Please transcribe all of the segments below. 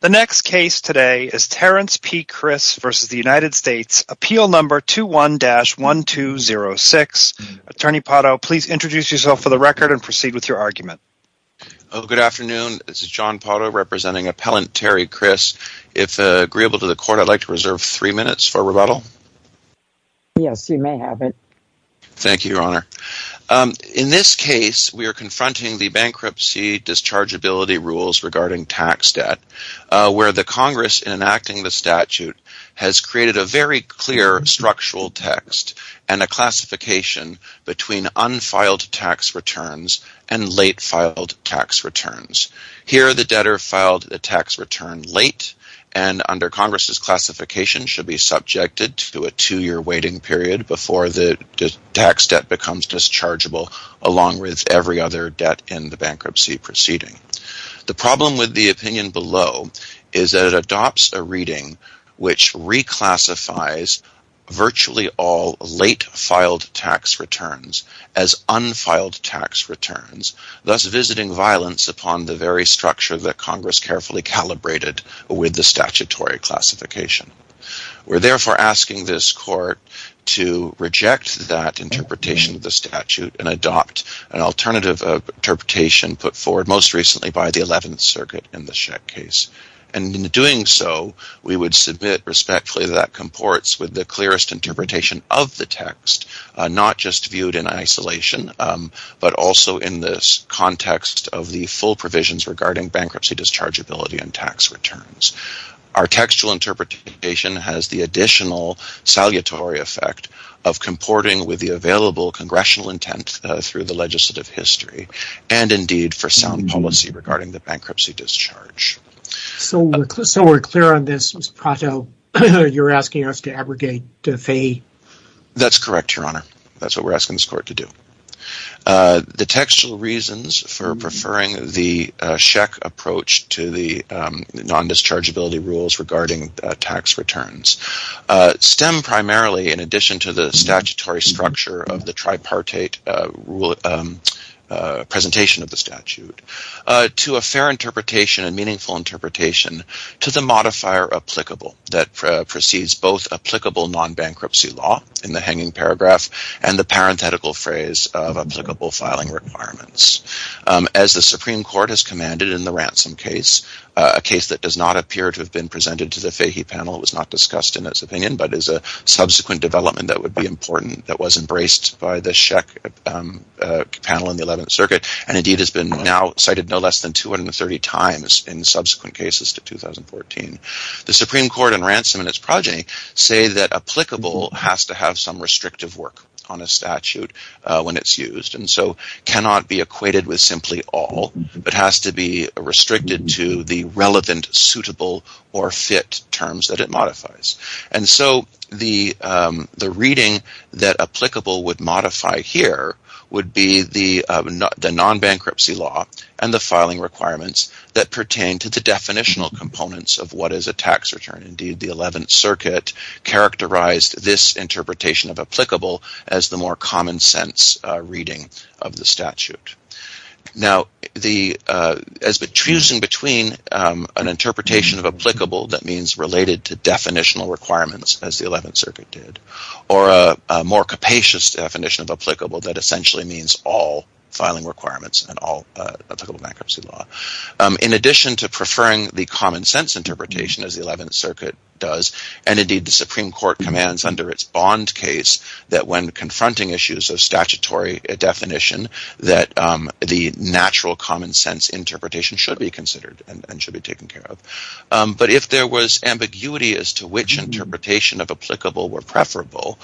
The next case today is Terrence P. Kriss v. United States, Appeal No. 21-1206. Attorney Pato, please introduce yourself for the record and proceed with your argument. Good afternoon. This is John Pato representing Appellant Terry Kriss. If agreeable to the court, I'd like to reserve three minutes for rebuttal. Yes, you may have it. Thank you, Your Honor. In this case, we are confronting the bankruptcy dischargeability rules regarding tax debt, where the Congress enacting the statute has created a very clear structural text and a classification between unfiled tax returns and late filed tax returns. Here, the debtor filed a tax return late, and under Congress' classification should be subjected to a two-year waiting period before the tax debt becomes dischargeable, along with every other debt in the bankruptcy proceeding. The problem with the opinion below is that it adopts a reading which reclassifies virtually all late filed tax returns as unfiled tax returns, thus visiting violence upon the very structure that Congress carefully calibrated with the statutory classification. We're therefore asking this court to reject that interpretation of the statute and adopt an alternative interpretation put forward most recently by the 11th Circuit in the Schecht case. In doing so, we would submit respectfully that that comports with the clearest interpretation of the text, not just viewed in isolation, but also in this context of the full provisions regarding bankruptcy dischargeability and tax returns. Our textual interpretation has the additional salutary effect of comporting with the available Congressional intent through the legislative history and indeed for sound policy regarding the bankruptcy discharge. So we're clear on this, Mr. Prato? You're asking us to abrogate the fee? That's correct, Your Honor. That's what we're asking this court to do. The textual reasons for preferring the Schecht approach to the non-dischargeability rules regarding tax returns stem primarily in addition to the statutory structure of the tripartite presentation of the statute to a fair interpretation and meaningful interpretation to the modifier applicable that precedes both applicable non-bankruptcy law in the hanging paragraph and the parenthetical phrase of applicable filing requirements. As the Supreme Court has commanded in the Ransom case, a case that does not appear to have been presented to the Fahy panel, it was not discussed in its opinion, but is a subsequent development that would be important that was embraced by the Schecht panel in the 11th Circuit and indeed has been now cited no less than 230 times in subsequent cases to 2014. The Supreme Court and Ransom in its progeny say that applicable has to have some restrictive work on a statute when it's used and so cannot be equated with simply all, but has to be restricted to the relevant, suitable or fit terms that it modifies. And so the reading that applicable would modify here would be the non-bankruptcy law and the filing requirements that pertain to the definitional components of what is a tax return. Indeed, the 11th Circuit characterized this interpretation of applicable as the more common sense reading of the statute. Now, as between an interpretation of applicable that means related to definitional requirements, as the 11th Circuit did, or a more capacious definition of applicable that essentially means all filing requirements and all applicable bankruptcy law. In addition to preferring the common sense interpretation, as the 11th Circuit does, and indeed the Supreme Court commands under its bond case that when confronting issues of statutory definition that the natural common sense interpretation should be considered and should be taken care of. But if there was ambiguity as to which interpretation of applicable were preferable,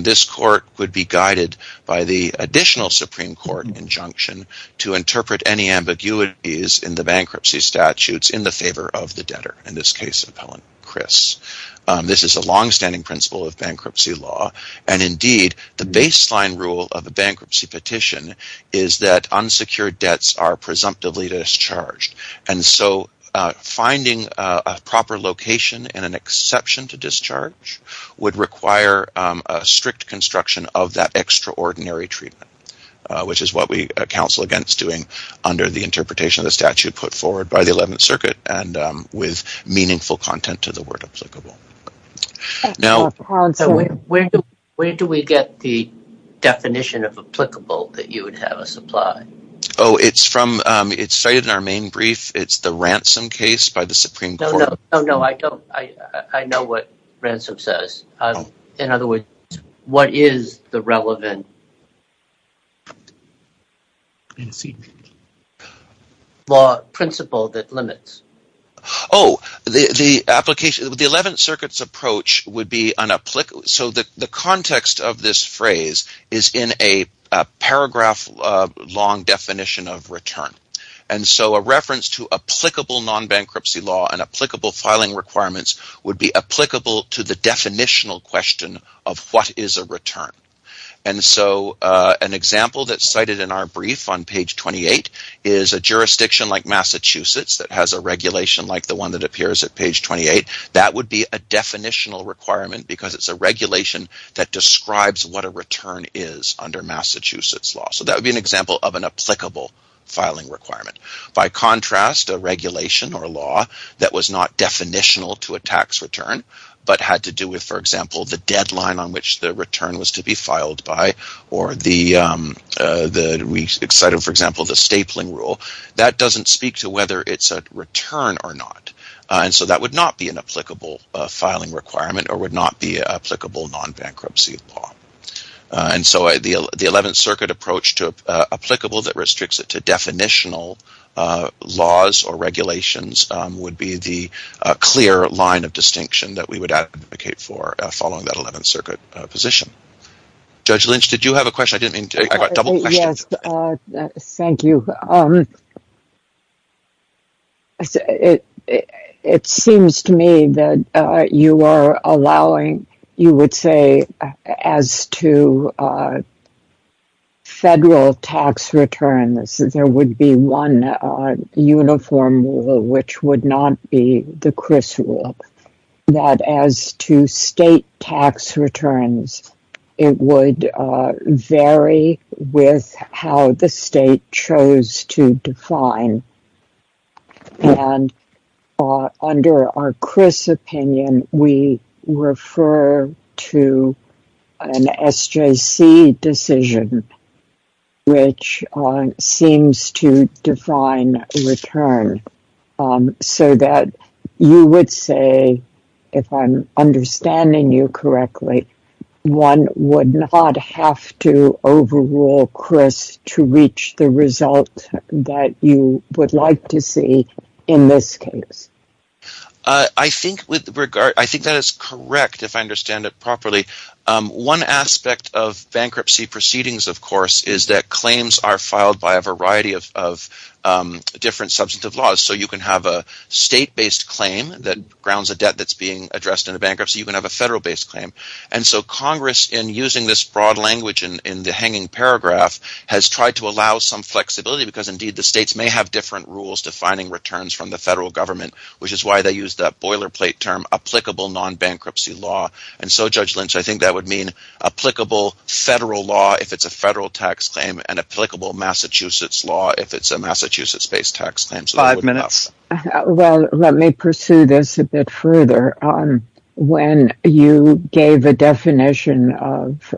this court would be guided by the additional Supreme Court injunction to interpret any ambiguities in the bankruptcy statutes in the favor of the debtor, in this case, appellant Chris. This is a long-standing principle of bankruptcy law and indeed the baseline rule of a bankruptcy petition is that unsecured debts are presumptively discharged. And so finding a proper location and an exception to discharge would require a strict construction of that extraordinary treatment, which is what we counsel against doing under the interpretation of the statute put forward by the 11th Circuit and with meaningful content to the word applicable. Now – Where do we get the definition of applicable that you would have us apply? Oh, it's from – it's cited in our main brief. It's the ransom case by the Supreme Court. No, no. I don't – I know what ransom says. In other words, what is the relevant law principle that limits? Oh, the application – the 11th Circuit's approach would be – so the context of this phrase is in a paragraph-long definition of return. And so a reference to applicable non-bankruptcy law and applicable filing requirements would be applicable to the definitional question of what is a return. And so an example that's cited in our brief on page 28 is a jurisdiction like Massachusetts that has a regulation like the one that appears at page 28. That would be a definitional requirement because it's a regulation that describes what a return is under Massachusetts law. So that would be an example of an applicable filing requirement. By contrast, a regulation or a law that was not definitional to a tax return but had to do with, for example, the deadline on which the return was to be filed by or the – we cited, for example, the stapling rule. That doesn't speak to whether it's a return or not. And so that would not be an applicable filing requirement or would not be applicable non-bankruptcy law. And so the Eleventh Circuit approach to applicable that restricts it to definitional laws or regulations would be the clear line of distinction that we would advocate for following that Eleventh Circuit position. Judge Lynch, did you have a question? I didn't mean to – I've got double questions. Yes, thank you. It seems to me that you are allowing – you would say as to federal tax returns, there would be one uniform rule which would not be the Criss rule. That as to state tax returns, it would vary with how the state chose to define. And under our Criss opinion, we refer to an SJC decision which seems to define return so that you would say, if I'm understanding you correctly, one would not have to overrule Criss to reach the result that you would like to see in this case. I think that is correct if I understand it properly. One aspect of bankruptcy proceedings, of course, is that claims are filed by a variety of different substantive laws. So you can have a state-based claim that grounds a debt that's being addressed in a bankruptcy. You can have a federal-based claim. And so Congress, in using this broad language in the hanging paragraph, has tried to allow some flexibility because indeed the states may have different rules defining returns from the federal government, which is why they use that boilerplate term, applicable non-bankruptcy law. And so, Judge Lynch, I think that would mean applicable federal law if it's a federal tax claim and applicable Massachusetts law if it's a Massachusetts-based tax claim. Well, let me pursue this a bit further. When you gave a definition of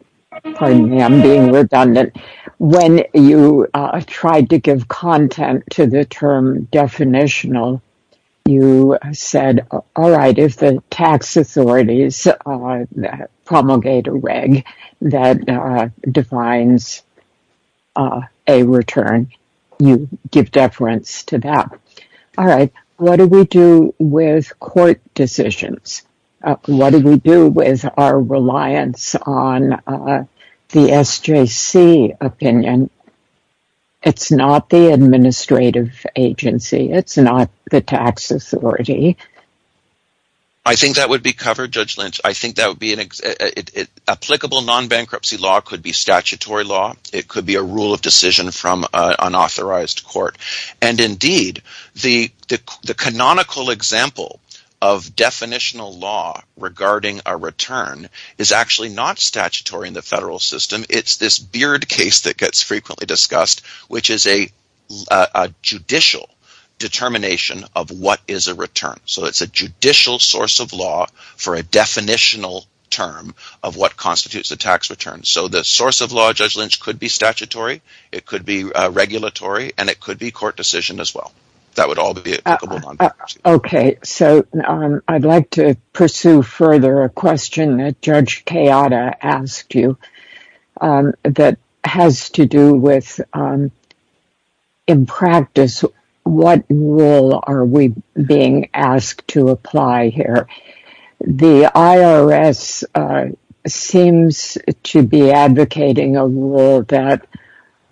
– pardon me, I'm being redundant – when you tried to give content to the term definitional, you said, all right, if the tax authorities promulgate a reg that defines a return, you give deference to that. All right, what do we do with court decisions? What do we do with our reliance on the SJC opinion? It's not the administrative agency. It's not the tax authority. I think that would be covered, Judge Lynch. I think applicable non-bankruptcy law could be statutory law. It could be a rule of decision from an authorized court. And indeed, the canonical example of definitional law regarding a return is actually not statutory in the federal system. It's this Beard case that gets frequently discussed, which is a judicial determination of what is a return. So it's a judicial source of law for a definitional term of what constitutes a tax return. So the source of law, Judge Lynch, could be statutory, it could be regulatory, and it could be court decision as well. That would all be applicable non-bankruptcy law. Okay, so I'd like to pursue further a question that Judge Kayata asked you that has to do with, in practice, what rule are we being asked to apply here? The IRS seems to be advocating a rule that,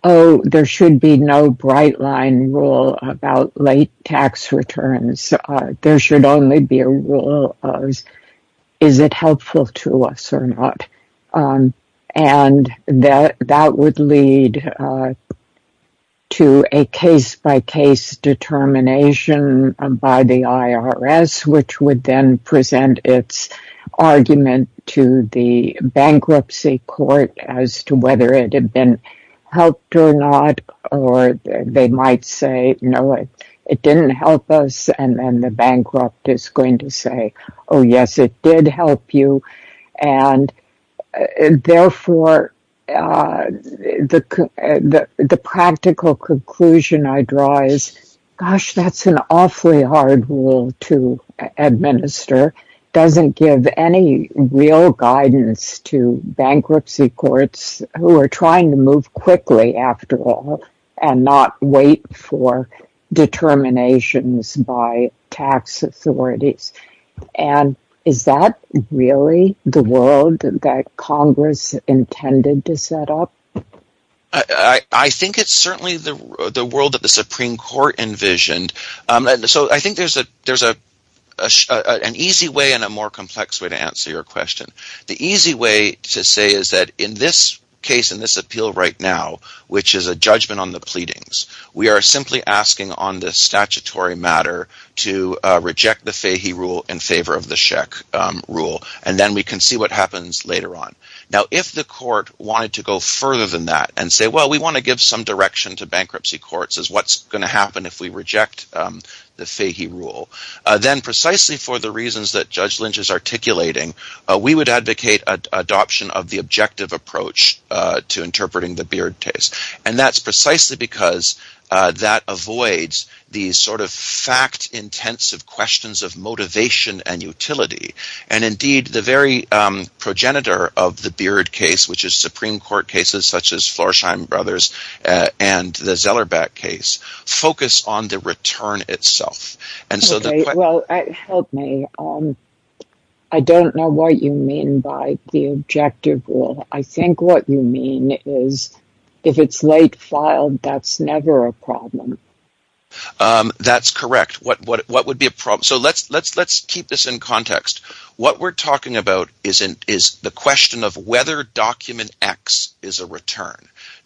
oh, there should be no bright-line rule about late tax returns. There should only be a rule of, is it helpful to us or not? And that would lead to a case-by-case determination by the IRS, which would then present its argument to the bankruptcy court as to whether it had been helped or not. Or they might say, no, it didn't help us, and then the bankrupt is going to say, oh, yes, it did help you. And, therefore, the practical conclusion I draw is, gosh, that's an awfully hard rule to administer. It doesn't give any real guidance to bankruptcy courts, who are trying to move quickly, after all, and not wait for determinations by tax authorities. And is that really the world that Congress intended to set up? I think it's certainly the world that the Supreme Court envisioned. So I think there's an easy way and a more complex way to answer your question. The easy way to say is that in this case, in this appeal right now, which is a judgment on the pleadings, we are simply asking on the statutory matter to reject the Fahy rule in favor of the Scheck rule, and then we can see what happens later on. Now, if the court wanted to go further than that and say, well, we want to give some direction to bankruptcy courts as what's going to happen if we reject the Fahy rule, then precisely for the reasons that Judge Lynch is articulating, we would advocate adoption of the objective approach to interpreting the Beard Case, and that's precisely because that avoids these sort of fact-intensive questions of motivation and utility. And indeed, the very progenitor of the Beard Case, which is Supreme Court cases such as Florsheim Brothers and the Zellerbeck case, focus on the return itself. Help me. I don't know what you mean by the objective rule. I think what you mean is if it's late filed, that's never a problem. That's correct. So let's keep this in context. What we're talking about is the question of whether Document X is a return.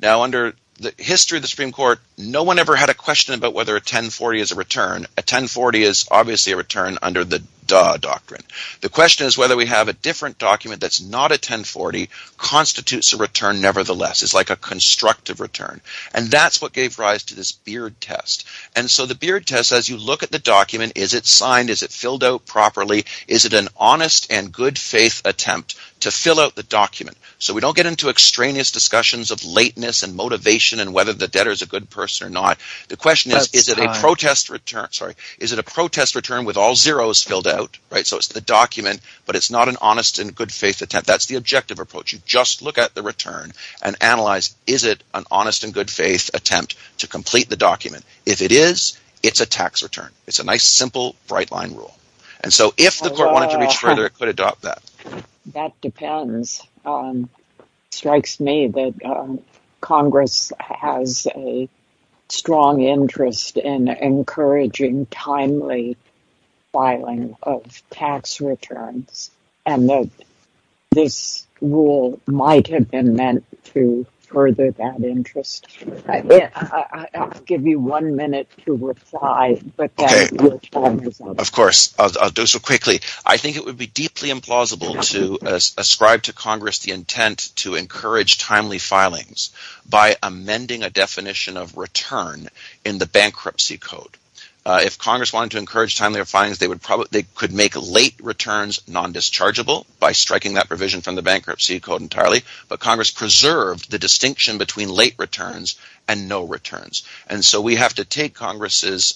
Now, under the history of the Supreme Court, no one ever had a question about whether a 1040 is a return. A 1040 is obviously a return under the Duh Doctrine. The question is whether we have a different document that's not a 1040 constitutes a return nevertheless. It's like a constructive return, and that's what gave rise to this Beard Test. And so the Beard Test, as you look at the document, is it signed? Is it filled out properly? Is it an honest and good-faith attempt to fill out the document? So we don't get into extraneous discussions of lateness and motivation and whether the debtor is a good person or not. The question is, is it a protest return with all zeros filled out? So it's the document, but it's not an honest and good-faith attempt. That's the objective approach. You just look at the return and analyze, is it an honest and good-faith attempt to complete the document? If it is, it's a tax return. It's a nice, simple, bright-line rule. And so if the court wanted to reach further, it could adopt that. That depends. It strikes me that Congress has a strong interest in encouraging timely filing of tax returns, and that this rule might have been meant to further that interest. I'll give you one minute to reply, but your time is up. I think it would be deeply implausible to ascribe to Congress the intent to encourage timely filings by amending a definition of return in the Bankruptcy Code. If Congress wanted to encourage timely filings, they could make late returns non-dischargeable by striking that provision from the Bankruptcy Code entirely, but Congress preserved the distinction between late returns and no returns. And so we have to take Congress's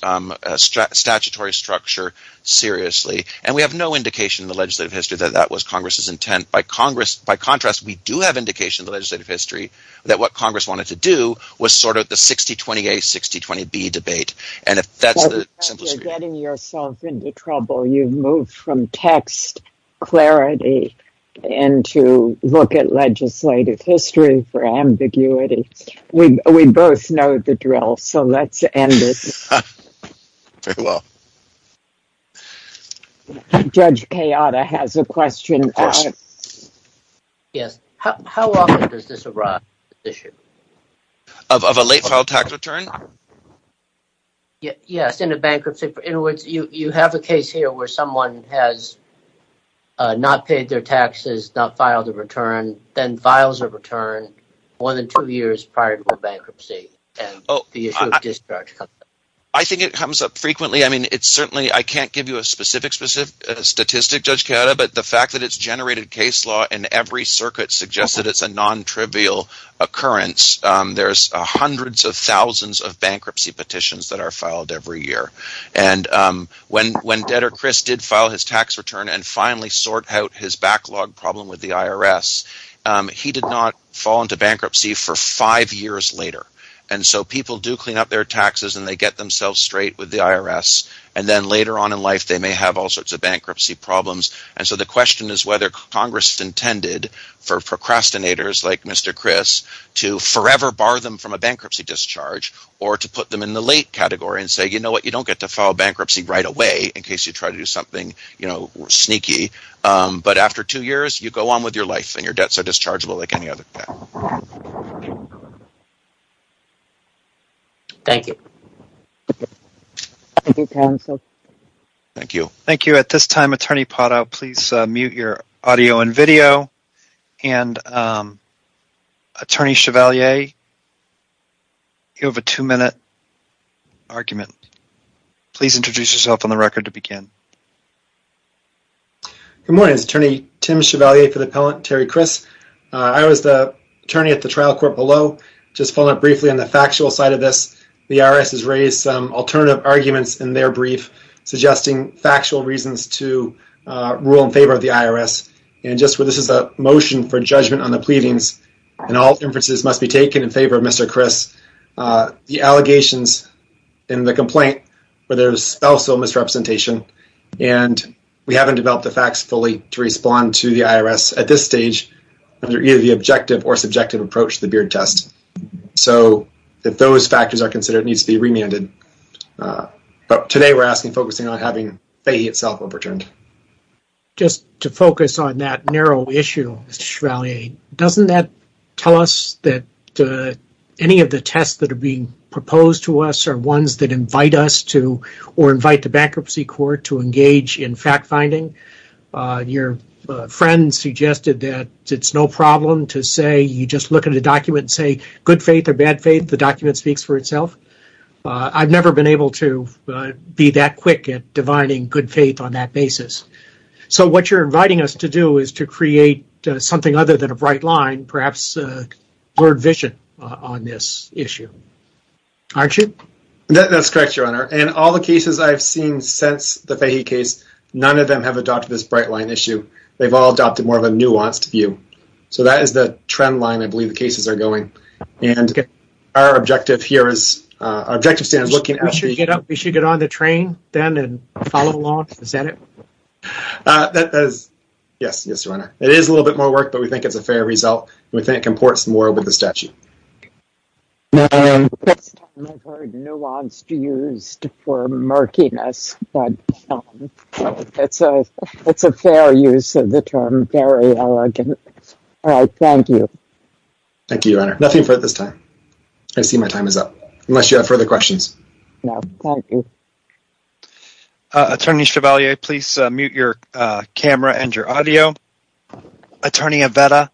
statutory structure seriously. And we have no indication in the legislative history that that was Congress's intent. By contrast, we do have indication in the legislative history that what Congress wanted to do was sort out the 60-20-A, 60-20-B debate. You're getting yourself into trouble. You've moved from text clarity into look at legislative history for ambiguity. We both know the drill, so let's end it. Very well. Judge Kayada has a question. Yes. How often does this arise, this issue? Of a late-filed tax return? Yes, in a bankruptcy. In other words, you have a case here where someone has not paid their taxes, not filed a return. Then files are returned more than two years prior to a bankruptcy and the issue of discharge comes up. I think it comes up frequently. I can't give you a specific statistic, Judge Kayada, but the fact that it's generated case law in every circuit suggests that it's a non-trivial occurrence. There are hundreds of thousands of bankruptcy petitions that are filed every year. When debtor Chris did file his tax return and finally sort out his backlog problem with the IRS, he did not fall into bankruptcy for five years later. People do clean up their taxes and they get themselves straight with the IRS. Then later on in life, they may have all sorts of bankruptcy problems. The question is whether Congress intended for procrastinators like Mr. Chris to forever bar them from a bankruptcy discharge or to put them in the late category and say, you know what, you don't get to file bankruptcy right away in case you try to do something sneaky. But after two years, you go on with your life and your debts are dischargeable like any other debt. Thank you. Thank you, counsel. Thank you. Thank you. At this time, Attorney Potow, please mute your audio and video. And Attorney Chevalier, you have a two-minute argument. Please introduce yourself on the record to begin. Good morning. This is Attorney Tim Chevalier for the appellant Terry Chris. I was the attorney at the trial court below. Just following up briefly on the factual side of this, the IRS has raised some alternative arguments in their brief, suggesting factual reasons to rule in favor of the IRS. And just where this is a motion for judgment on the pleadings and all inferences must be taken in favor of Mr. Chris, the allegations in the complaint where there's also misrepresentation, and we haven't developed the facts fully to respond to the IRS at this stage under either the objective or subjective approach to the BEARD test. So if those factors are considered, it needs to be remanded. But today we're asking, focusing on having FAHEY itself overturned. Just to focus on that narrow issue, Mr. Chevalier, doesn't that tell us that any of the tests that are being proposed to us are ones that invite us to or invite the bankruptcy court to engage in fact-finding? Your friend suggested that it's no problem to say you just look at a document and say good faith or bad faith. The document speaks for itself. I've never been able to be that quick at divining good faith on that basis. So what you're inviting us to do is to create something other than a bright line, perhaps a blurred vision on this issue. Aren't you? That's correct, Your Honor. In all the cases I've seen since the FAHEY case, none of them have adopted this bright line issue. They've all adopted more of a nuanced view. So that is the trend line I believe the cases are going. Our objective here is looking at the- We should get on the train then and follow along, is that it? Yes, Your Honor. It is a little bit more work, but we think it's a fair result. We think it comports more with the statute. This time I've heard nuanced used for murkiness, but it's a fair use of the term, very elegant. All right, thank you. Thank you, Your Honor. Nothing for this time. I see my time is up, unless you have further questions. No, thank you. Attorney Chevalier, please mute your camera and your audio. Attorney Avetta,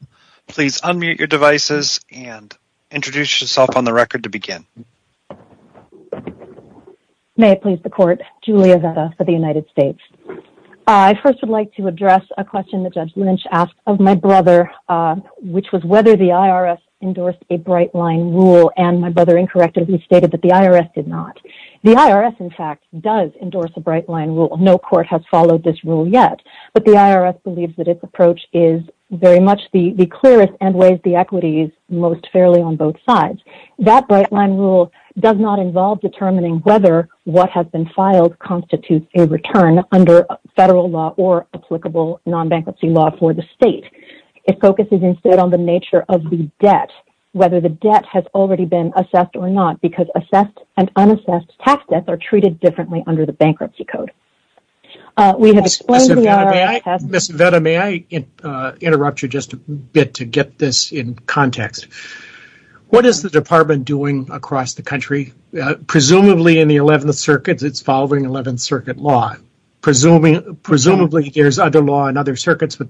please unmute your devices and introduce yourself on the record to begin. May it please the court, Julia Avetta for the United States. I first would like to address a question that Judge Lynch asked of my brother, which was whether the IRS endorsed a bright line rule. And my brother incorrectly stated that the IRS did not. The IRS, in fact, does endorse a bright line rule. No court has followed this rule yet. But the IRS believes that its approach is very much the clearest and weighs the equities most fairly on both sides. That bright line rule does not involve determining whether what has been filed constitutes a return under federal law or applicable non-bankruptcy law for the state. It focuses instead on the nature of the debt, whether the debt has already been assessed or not, because assessed and unassessed tax debts are treated differently under the bankruptcy code. Ms. Avetta, may I interrupt you just a bit to get this in context? What is the department doing across the country? Presumably in the 11th Circuit, it's following 11th Circuit law. Presumably there's other law in other circuits, but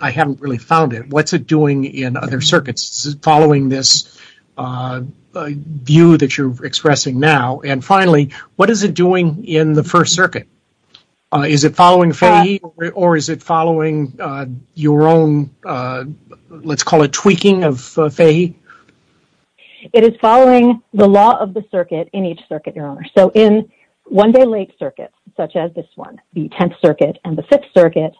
I haven't really found it. What's it doing in other circuits following this view that you're expressing now? And finally, what is it doing in the First Circuit? Is it following FEHI or is it following your own, let's call it tweaking of FEHI? It is following the law of the circuit in each circuit, Your Honor. In one-day late circuits, such as this one, the 10th Circuit and the 5th Circuit,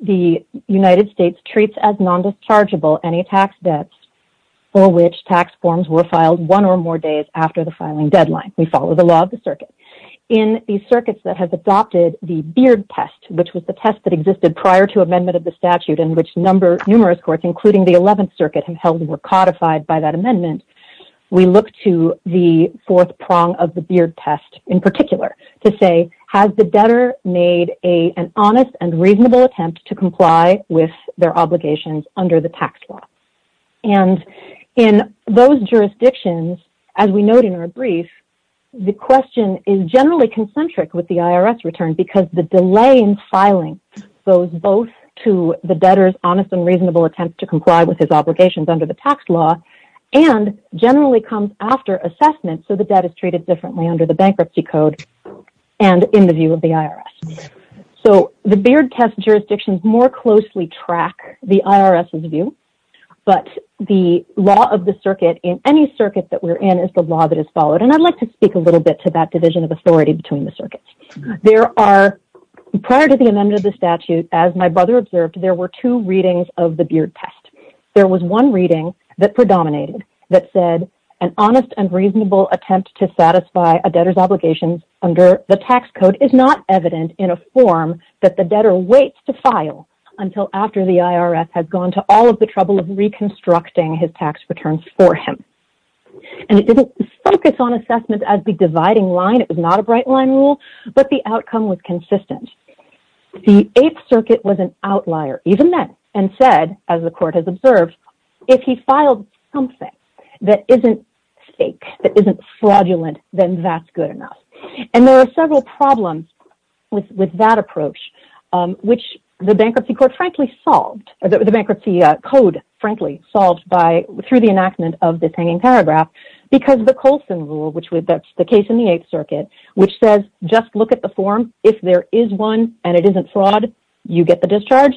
the United States treats as non-dischargeable any tax debts for which tax forms were filed one or more days after the filing deadline. We follow the law of the circuit. In the circuits that have adopted the Beard Test, which was the test that existed prior to amendment of the statute and which numerous courts, including the 11th Circuit, were codified by that amendment, we look to the fourth prong of the Beard Test in particular to say, has the debtor made an honest and reasonable attempt to comply with their obligations under the tax law? And in those jurisdictions, as we note in our brief, the question is generally concentric with the IRS return because the delay in filing goes both to the debtor's honest and reasonable attempt to comply with his obligations under the tax law and generally comes after assessment so the debt is treated differently under the Bankruptcy Code and in the view of the IRS. So the Beard Test jurisdictions more closely track the IRS's view, but the law of the circuit in any circuit that we're in is the law that is followed and I'd like to speak a little bit to that division of authority between the circuits. There are, prior to the amendment of the statute, as my brother observed, there were two readings of the Beard Test. There was one reading that predominated that said, an honest and reasonable attempt to satisfy a debtor's obligations under the tax code is not evident in a form that the debtor waits to file until after the IRS has gone to all of the trouble of reconstructing his tax returns for him. And it didn't focus on assessment as the dividing line, it was not a bright line rule, but the outcome was consistent. The Eighth Circuit was an outlier even then and said, as the court has observed, if he filed something that isn't fake, that isn't fraudulent, then that's good enough. And there are several problems with that approach, which the Bankruptcy Code frankly solved through the enactment of this hanging paragraph because the Colson Rule, which is the case in the Eighth Circuit, which says just look at the form, if there is one and it isn't fraud, you get the discharge,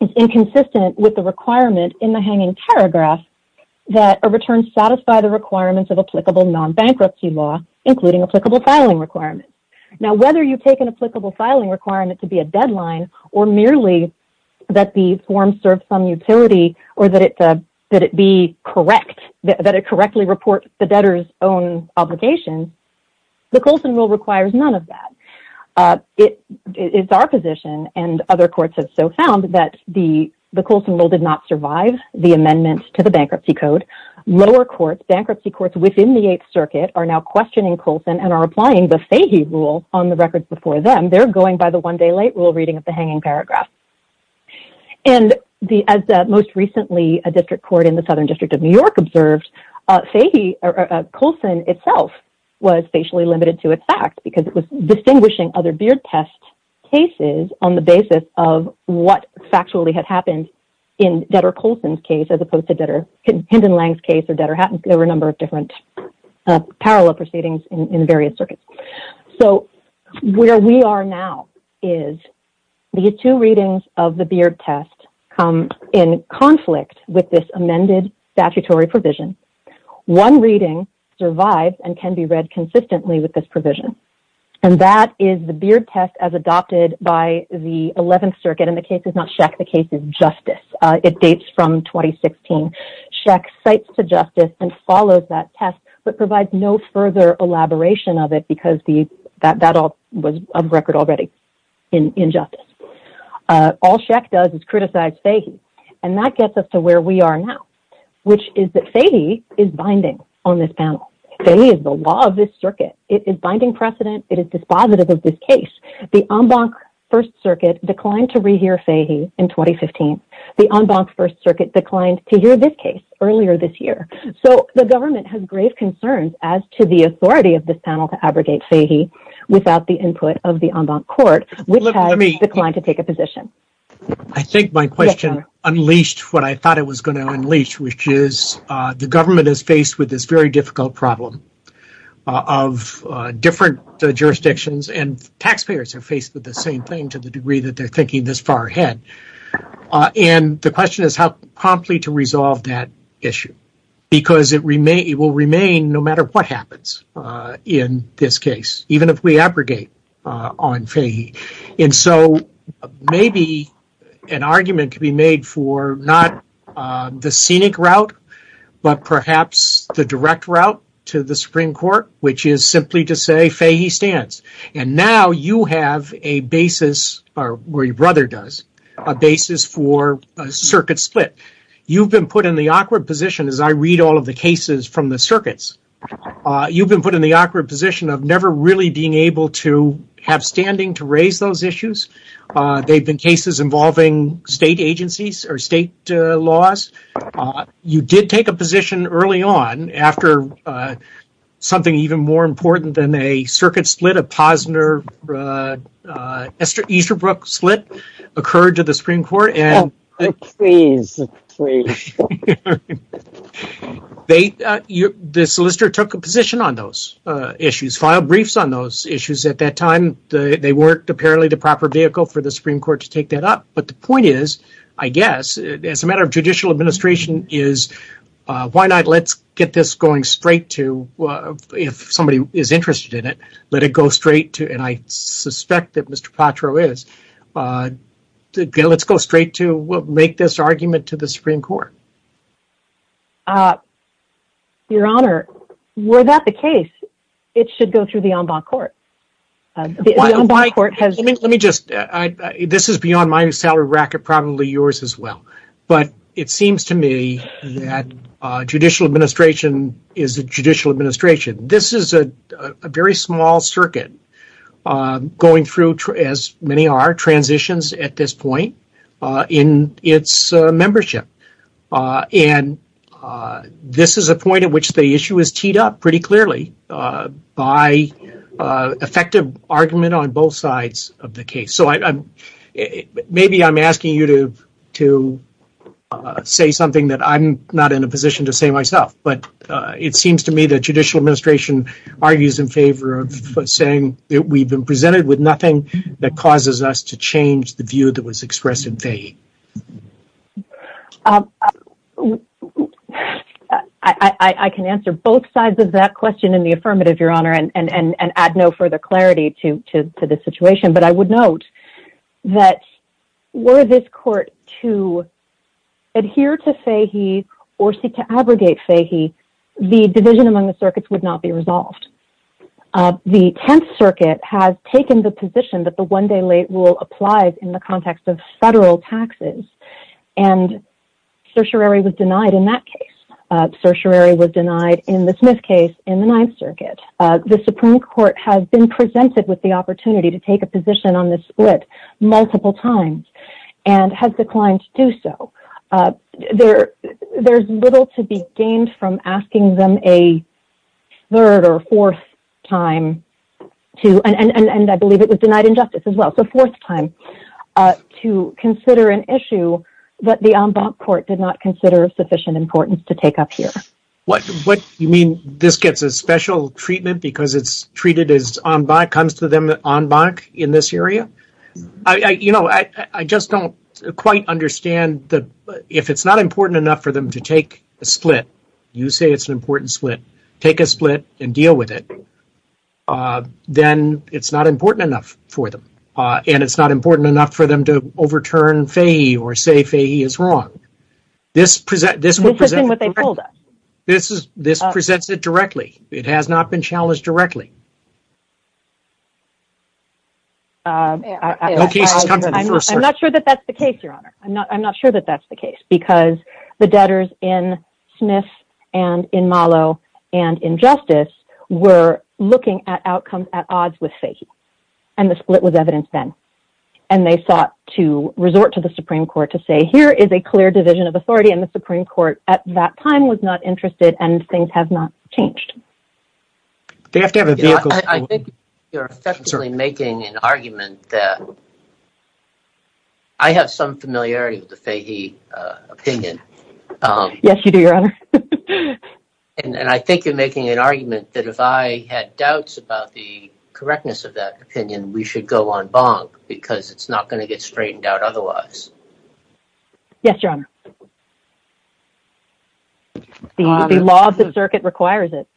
is inconsistent with the requirement in the hanging paragraph that a return satisfy the requirements of applicable non-bankruptcy law, including applicable filing requirements. Now, whether you take an applicable filing requirement to be a deadline or merely that the form serves some utility or that it be correct, that it correctly report the debtor's own obligation, the Colson Rule requires none of that. It's our position and other courts have so found that the Colson Rule did not survive the amendment to the Bankruptcy Code. Lower courts, bankruptcy courts within the Eighth Circuit are now questioning Colson and are applying the Fahey Rule on the records before them. They're going by the one day late rule reading of the hanging paragraph. And as most recently a district court in the Southern District of New York observed, Colson itself was facially limited to its fact because it was distinguishing other beard test cases on the basis of what factually had happened in debtor Colson's case as opposed to debtor Hinton-Lang's case or debtor Hatton's. There were a number of different parallel proceedings in various circuits. So where we are now is the two readings of the beard test come in conflict with this amended statutory provision. One reading survives and can be read consistently with this provision. And that is the beard test as adopted by the Eleventh Circuit. And the case is not Scheck, the case is Justice. It dates from 2016. Scheck cites to justice and follows that test, but provides no further elaboration of it because that was on record already in justice. All Scheck does is criticize Fahey. And that gets us to where we are now, which is that Fahey is binding on this panel. Fahey is the law of this circuit. It is binding precedent. It is dispositive of this case. The en banc First Circuit declined to rehear Fahey in 2015. The en banc First Circuit declined to hear this case earlier this year. So the government has grave concerns as to the authority of this panel to abrogate Fahey without the input of the en banc court, which has declined to take a position. I think my question unleashed what I thought it was going to unleash, which is the government is faced with this very difficult problem of different jurisdictions and taxpayers are faced with the same thing to the degree that they're thinking this far ahead. And the question is how promptly to resolve that issue because it will remain no matter what happens in this case, even if we abrogate on Fahey. And so maybe an argument could be made for not the scenic route, but perhaps the direct route to the Supreme Court, which is simply to say Fahey stands. And now you have a basis, or your brother does, a basis for a circuit split. You've been put in the awkward position as I read all of the cases from the circuits. You've been put in the awkward position of never really being able to have standing to raise those issues. They've been cases involving state agencies or state laws. You did take a position early on after something even more important than a circuit split, a Posner-Easterbrook split occurred to the Supreme Court. The solicitor took a position on those issues, filed briefs on those issues at that time. They weren't apparently the proper vehicle for the Supreme Court to take that up. But the point is, I guess, as a matter of judicial administration, is why not let's get this going straight to, if somebody is interested in it, let it go straight to, and I suspect that Mr. Patro is. Let's go straight to make this argument to the Supreme Court. Your Honor, were that the case, it should go through the en bas court. This is beyond my salary bracket, probably yours as well. But it seems to me that judicial administration is a judicial administration. This is a very small circuit going through, as many are, transitions at this point in its membership. And this is a point at which the issue is teed up pretty clearly by effective argument on both sides of the case. So maybe I'm asking you to say something that I'm not in a position to say myself. But it seems to me that judicial administration argues in favor of saying that we've been presented with nothing that causes us to change the view that was expressed in Fahey. I can answer both sides of that question in the affirmative, Your Honor, and add no further clarity to the situation. But I would note that were this court to adhere to Fahey or seek to abrogate Fahey, the division among the circuits would not be resolved. The Tenth Circuit has taken the position that the one-day late rule applies in the context of federal taxes. And certiorari was denied in that case. Certiorari was denied in the Smith case in the Ninth Circuit. The Supreme Court has been presented with the opportunity to take a position on this split multiple times and has declined to do so. There's little to be gained from asking them a third or fourth time to, and I believe it was denied in justice as well, so fourth time, to consider an issue that the en banc court did not consider of sufficient importance to take up here. What, you mean this gets a special treatment because it's treated as en banc, comes to them en banc in this area? You know, I just don't quite understand if it's not important enough for them to take a split, you say it's an important split, take a split and deal with it, then it's not important enough for them. And it's not important enough for them to overturn Fahey or say Fahey is wrong. This presents it directly. It has not been challenged directly. I'm not sure that that's the case, Your Honor. I'm not sure that that's the case because the debtors in Smith and in Malo and in justice were looking at outcomes at odds with Fahey. And the split was evidenced then. And they sought to resort to the Supreme Court to say here is a clear division of authority and the Supreme Court at that time was not interested and things have not changed. They have to have a vehicle. I think you're effectively making an argument that I have some familiarity with the Fahey opinion. Yes, you do, Your Honor. And I think you're making an argument that if I had doubts about the correctness of that opinion, we should go en banc because it's not going to get straightened out otherwise. Yes, Your Honor. The law of the circuit requires it.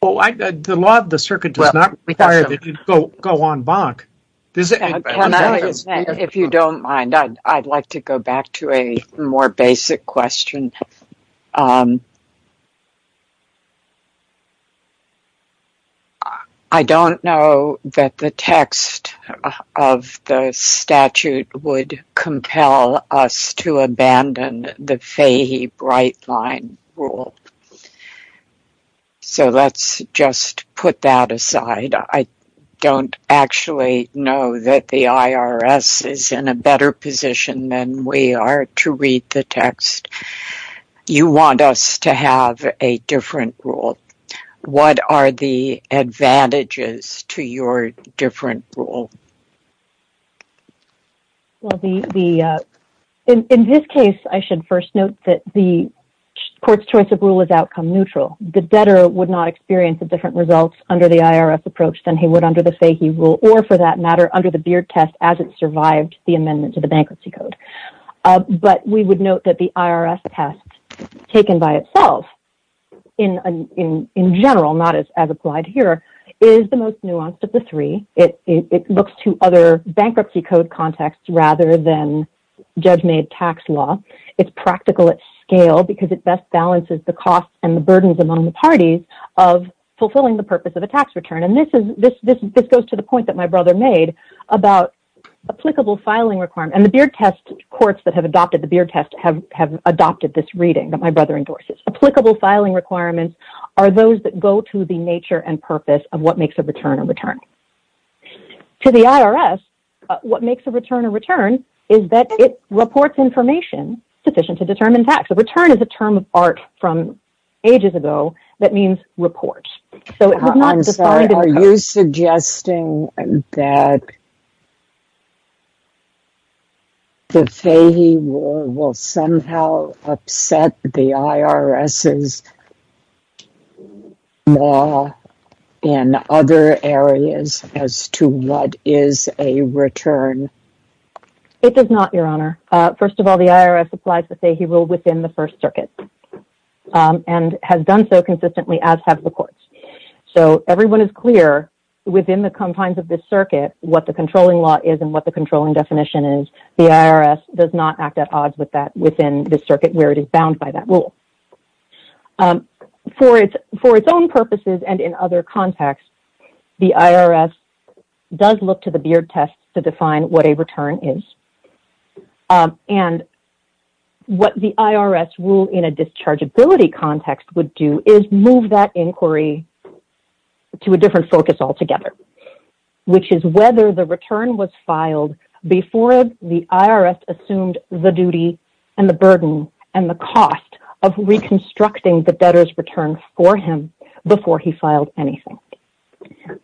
The law of the circuit does not require that you go en banc. If you don't mind, I'd like to go back to a more basic question. I don't know that the text of the statute would compel us to abandon the Fahey Bright Line rule. So let's just put that aside. I don't actually know that the IRS is in a better position than we are to read the text. You want us to have a different rule. What are the advantages to your different rule? In this case, I should first note that the court's choice of rule is outcome neutral. The debtor would not experience a different result under the IRS approach than he would under the Fahey rule or, for that matter, under the Beard test as it survived the amendment to the Bankruptcy Code. But we would note that the IRS test, taken by itself in general, not as applied here, is the most nuanced of the three. It looks to other Bankruptcy Code contexts rather than judge-made tax law. It's practical at scale because it best balances the costs and the burdens among the parties of fulfilling the purpose of a tax return. And this goes to the point that my brother made about applicable filing requirements. And the Beard test courts that have adopted the Beard test have adopted this reading that my brother endorses. Applicable filing requirements are those that go to the nature and purpose of what makes a return a return. To the IRS, what makes a return a return is that it reports information sufficient to determine tax. A return is a term of art from ages ago that means report. I'm sorry, are you suggesting that the Fahey rule will somehow upset the IRS's law in other areas as to what is a return? It does not, Your Honor. First of all, the IRS applies the Fahey rule within the First Circuit and has done so consistently as have the courts. So everyone is clear within the confines of this circuit what the controlling law is and what the controlling definition is. The IRS does not act at odds with that within the circuit where it is bound by that rule. For its own purposes and in other contexts, the IRS does look to the Beard test to define what a return is. And what the IRS rule in a dischargeability context would do is move that inquiry to a different focus altogether, which is whether the return was filed before the IRS assumed the duty and the burden and the cost of reconstructing the debtor's return for him before he filed anything.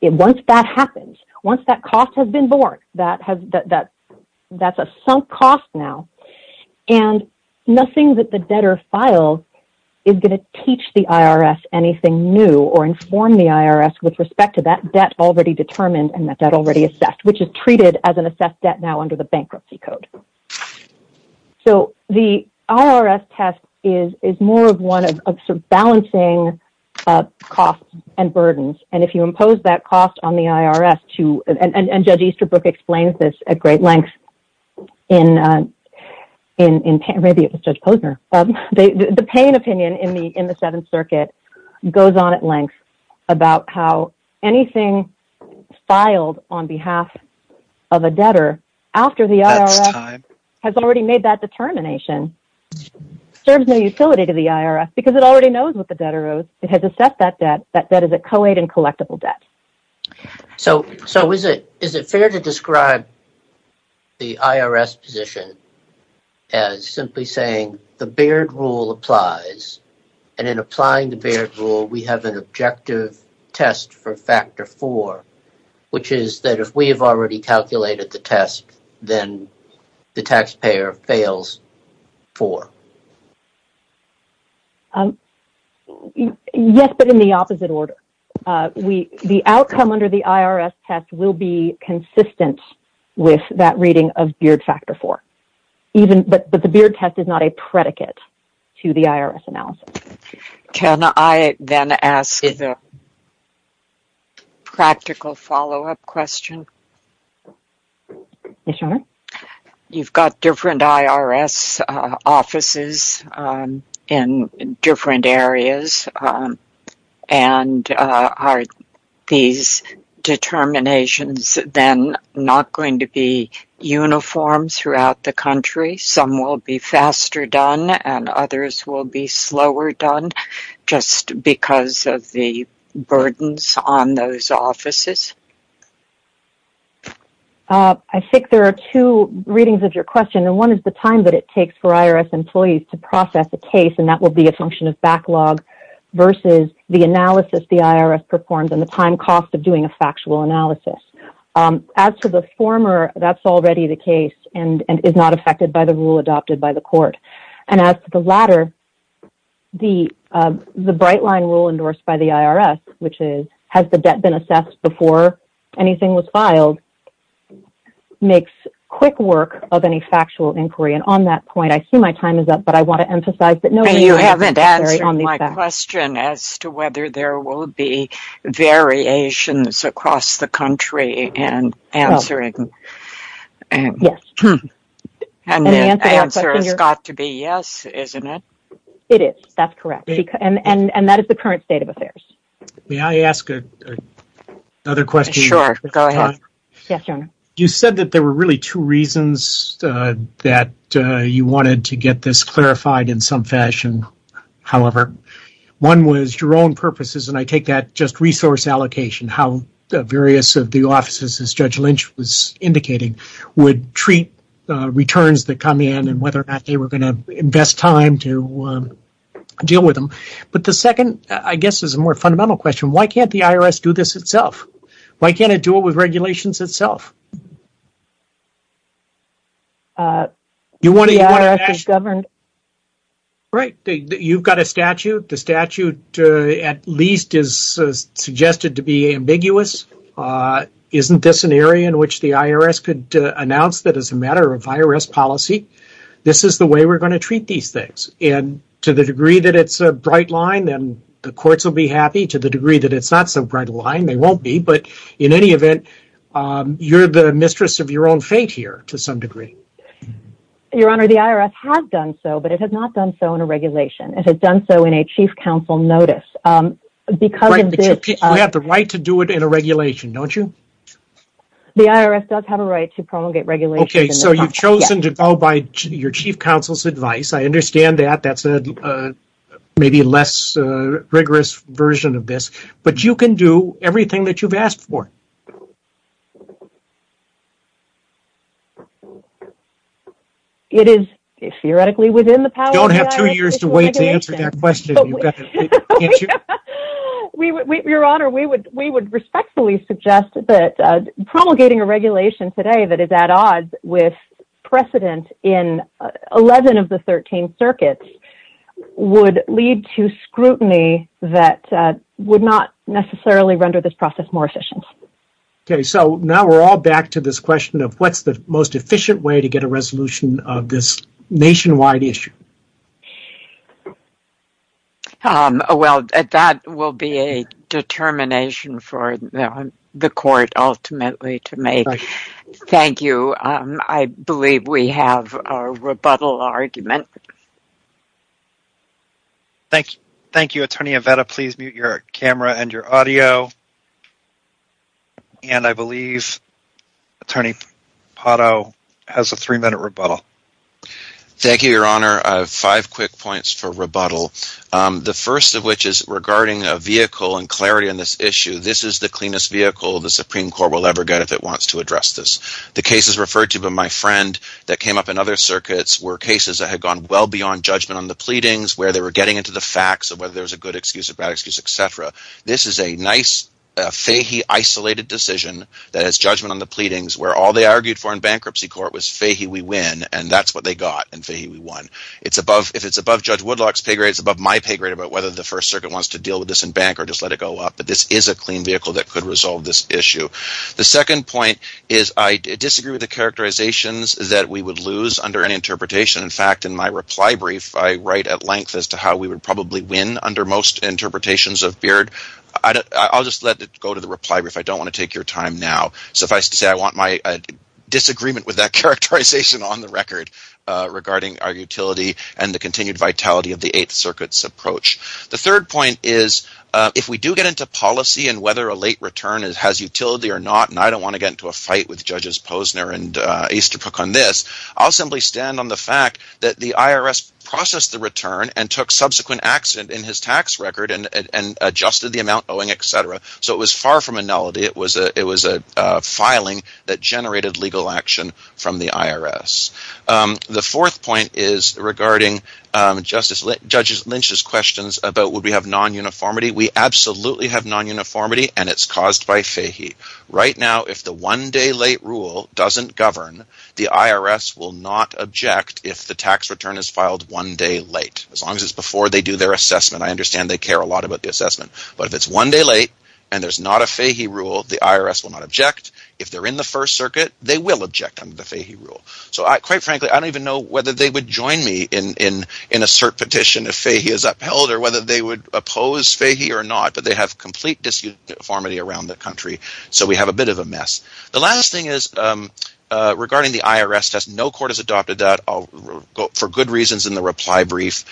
Once that happens, once that cost has been borne, that's a sunk cost now, and nothing that the debtor files is going to teach the IRS anything new or inform the IRS with respect to that debt already determined and that debt already assessed, which is treated as an assessed debt now under the bankruptcy code. So the IRS test is more of one of balancing costs and burdens. And if you impose that cost on the IRS to and Judge Easterbrook explains this at great length in maybe it was Judge Posner. The pain opinion in the Seventh Circuit goes on at length about how anything filed on behalf of a debtor after the IRS has already made that determination serves no utility to the IRS because it already knows what the debtor owes. It has assessed that debt. That debt is a co-aid and collectible debt. So so is it is it fair to describe the IRS position as simply saying the Baird rule applies and then applying the Baird rule? We have an objective test for factor for which is that if we have already calculated the test, then the taxpayer fails for. Yes, but in the opposite order, we the outcome under the IRS test will be consistent with that reading of your factor for even. But the Baird test is not a predicate to the IRS analysis. Can I then ask a practical follow up question? You've got different IRS offices in different areas. And are these determinations then not going to be uniform throughout the country? Some will be faster done and others will be slower done just because of the burdens on those offices. I think there are two readings of your question, and one is the time that it takes for IRS employees to process the case. And that will be a function of backlog versus the analysis the IRS performs and the time cost of doing a factual analysis. As to the former, that's already the case and is not affected by the rule adopted by the court. And as to the latter, the bright line rule endorsed by the IRS, which is has the debt been assessed before anything was filed, makes quick work of any factual inquiry. And on that point, I see my time is up, but I want to emphasize that no... You haven't answered my question as to whether there will be variations across the country in answering. Yes. And the answer has got to be yes, isn't it? It is. That's correct. And that is the current state of affairs. May I ask another question? Sure. Go ahead. You said that there were really two reasons that you wanted to get this clarified in some fashion, however. One was your own purposes, and I take that just resource allocation, how the various of the offices, as Judge Lynch was indicating, would treat returns that come in and whether or not they were going to invest time to deal with them. But the second, I guess, is a more fundamental question. Why can't the IRS do this itself? Why can't it do it with regulations itself? The IRS is governed... Right. You've got a statute. The statute, at least, is suggested to be ambiguous. Isn't this an area in which the IRS could announce that as a matter of IRS policy, this is the way we're going to treat these things? And to the degree that it's a bright line, then the courts will be happy. To the degree that it's not so bright a line, they won't be. But in any event, you're the mistress of your own fate here to some degree. Your Honor, the IRS has done so, but it has not done so in a regulation. It has done so in a chief counsel notice. But you have the right to do it in a regulation, don't you? The IRS does have a right to promulgate regulations. Okay, so you've chosen to go by your chief counsel's advice. I understand that. That's maybe a less rigorous version of this. But you can do everything that you've asked for. It is theoretically within the power of the IRS. You don't have two years to wait to answer that question. Your Honor, we would respectfully suggest that promulgating a regulation today that is at odds with precedent in 11 of the 13 circuits would lead to scrutiny that would not necessarily render this process more efficient. Okay, so now we're all back to this question of what's the most efficient way to get a resolution of this nationwide issue? Well, that will be a determination for the court ultimately to make. Thank you. I believe we have a rebuttal argument. Thank you, Attorney Avetta. Please mute your camera and your audio. And I believe Attorney Pato has a three-minute rebuttal. Thank you, Your Honor. I have five quick points for rebuttal. The first of which is regarding a vehicle and clarity on this issue. This is the cleanest vehicle the Supreme Court will ever get if it wants to address this. The cases referred to by my friend that came up in other circuits were cases that had gone well beyond judgment on the pleadings where they were getting into the facts of whether there was a good excuse, a bad excuse, etc. This is a nice fahy isolated decision that has judgment on the pleadings where all they argued for in bankruptcy court was fahy we win and that's what they got and fahy we won. If it's above Judge Woodlock's pay grade, it's above my pay grade about whether the First Circuit wants to deal with this in bank or just let it go up. But this is a clean vehicle that could resolve this issue. The second point is I disagree with the characterizations that we would lose under an interpretation. In fact, in my reply brief, I write at length as to how we would probably win under most interpretations of Beard. I'll just let it go to the reply brief. I don't want to take your time now. Suffice to say I want my disagreement with that characterization on the record regarding our utility and the continued vitality of the Eighth Circuit's approach. The third point is if we do get into policy and whether a late return has utility or not and I don't want to get into a fight with Judges Posner and Easterbrook on this, I'll simply stand on the fact that the IRS processed the return and took subsequent accident in his tax record and adjusted the amount owing, etc. So it was far from a nullity. It was a filing that generated legal action from the IRS. The fourth point is regarding Justice Lynch's questions about would we have non-uniformity. We absolutely have non-uniformity and it's caused by fahy. Right now, if the one-day late rule doesn't govern, the IRS will not object if the tax return is filed one day late as long as it's before they do their assessment. I understand they care a lot about the assessment. But if it's one day late and there's not a fahy rule, the IRS will not object. If they're in the First Circuit, they will object under the fahy rule. So quite frankly, I don't even know whether they would join me in a cert petition if fahy is upheld or whether they would oppose fahy or not. But they have complete disuniformity around the country. So we have a bit of a mess. The last thing is regarding the IRS test. No court has adopted that for good reasons in the reply brief.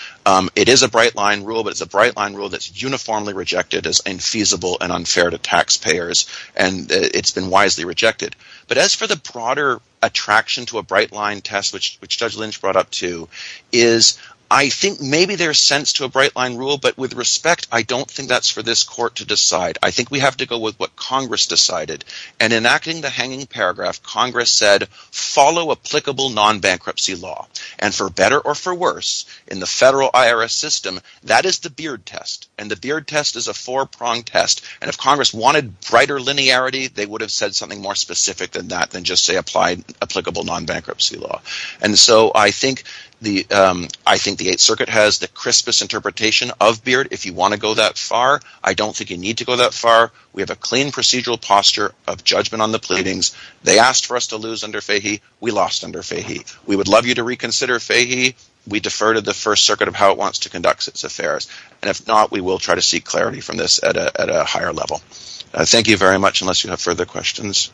It is a bright line rule but it's a bright line rule that's uniformly rejected as infeasible and unfair to taxpayers and it's been wisely rejected. But as for the broader attraction to a bright line test which Judge Lynch brought up to is I think maybe there's sense to a bright line rule but with respect, I don't think that's for this court to decide. I think we have to go with what Congress decided. In enacting the hanging paragraph, Congress said follow applicable non-bankruptcy law. For better or for worse, in the federal IRS system, that is the beard test and the beard test is a four-pronged test. And if Congress wanted brighter linearity, they would have said something more specific than that than just say apply applicable non-bankruptcy law. And so I think the 8th Circuit has the crispest interpretation of beard if you want to go that far. I don't think you need to go that far. We have a clean procedural posture of judgment on the pleadings. They asked for us to lose under fahy. We lost under fahy. We would love you to reconsider fahy. We defer to the 1st Circuit of how it wants to conduct its affairs. And if not, we will try to seek clarity from this at a higher level. Thank you very much unless you have further questions.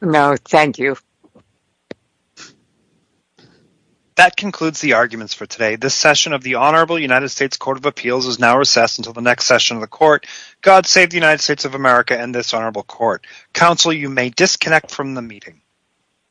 No, thank you.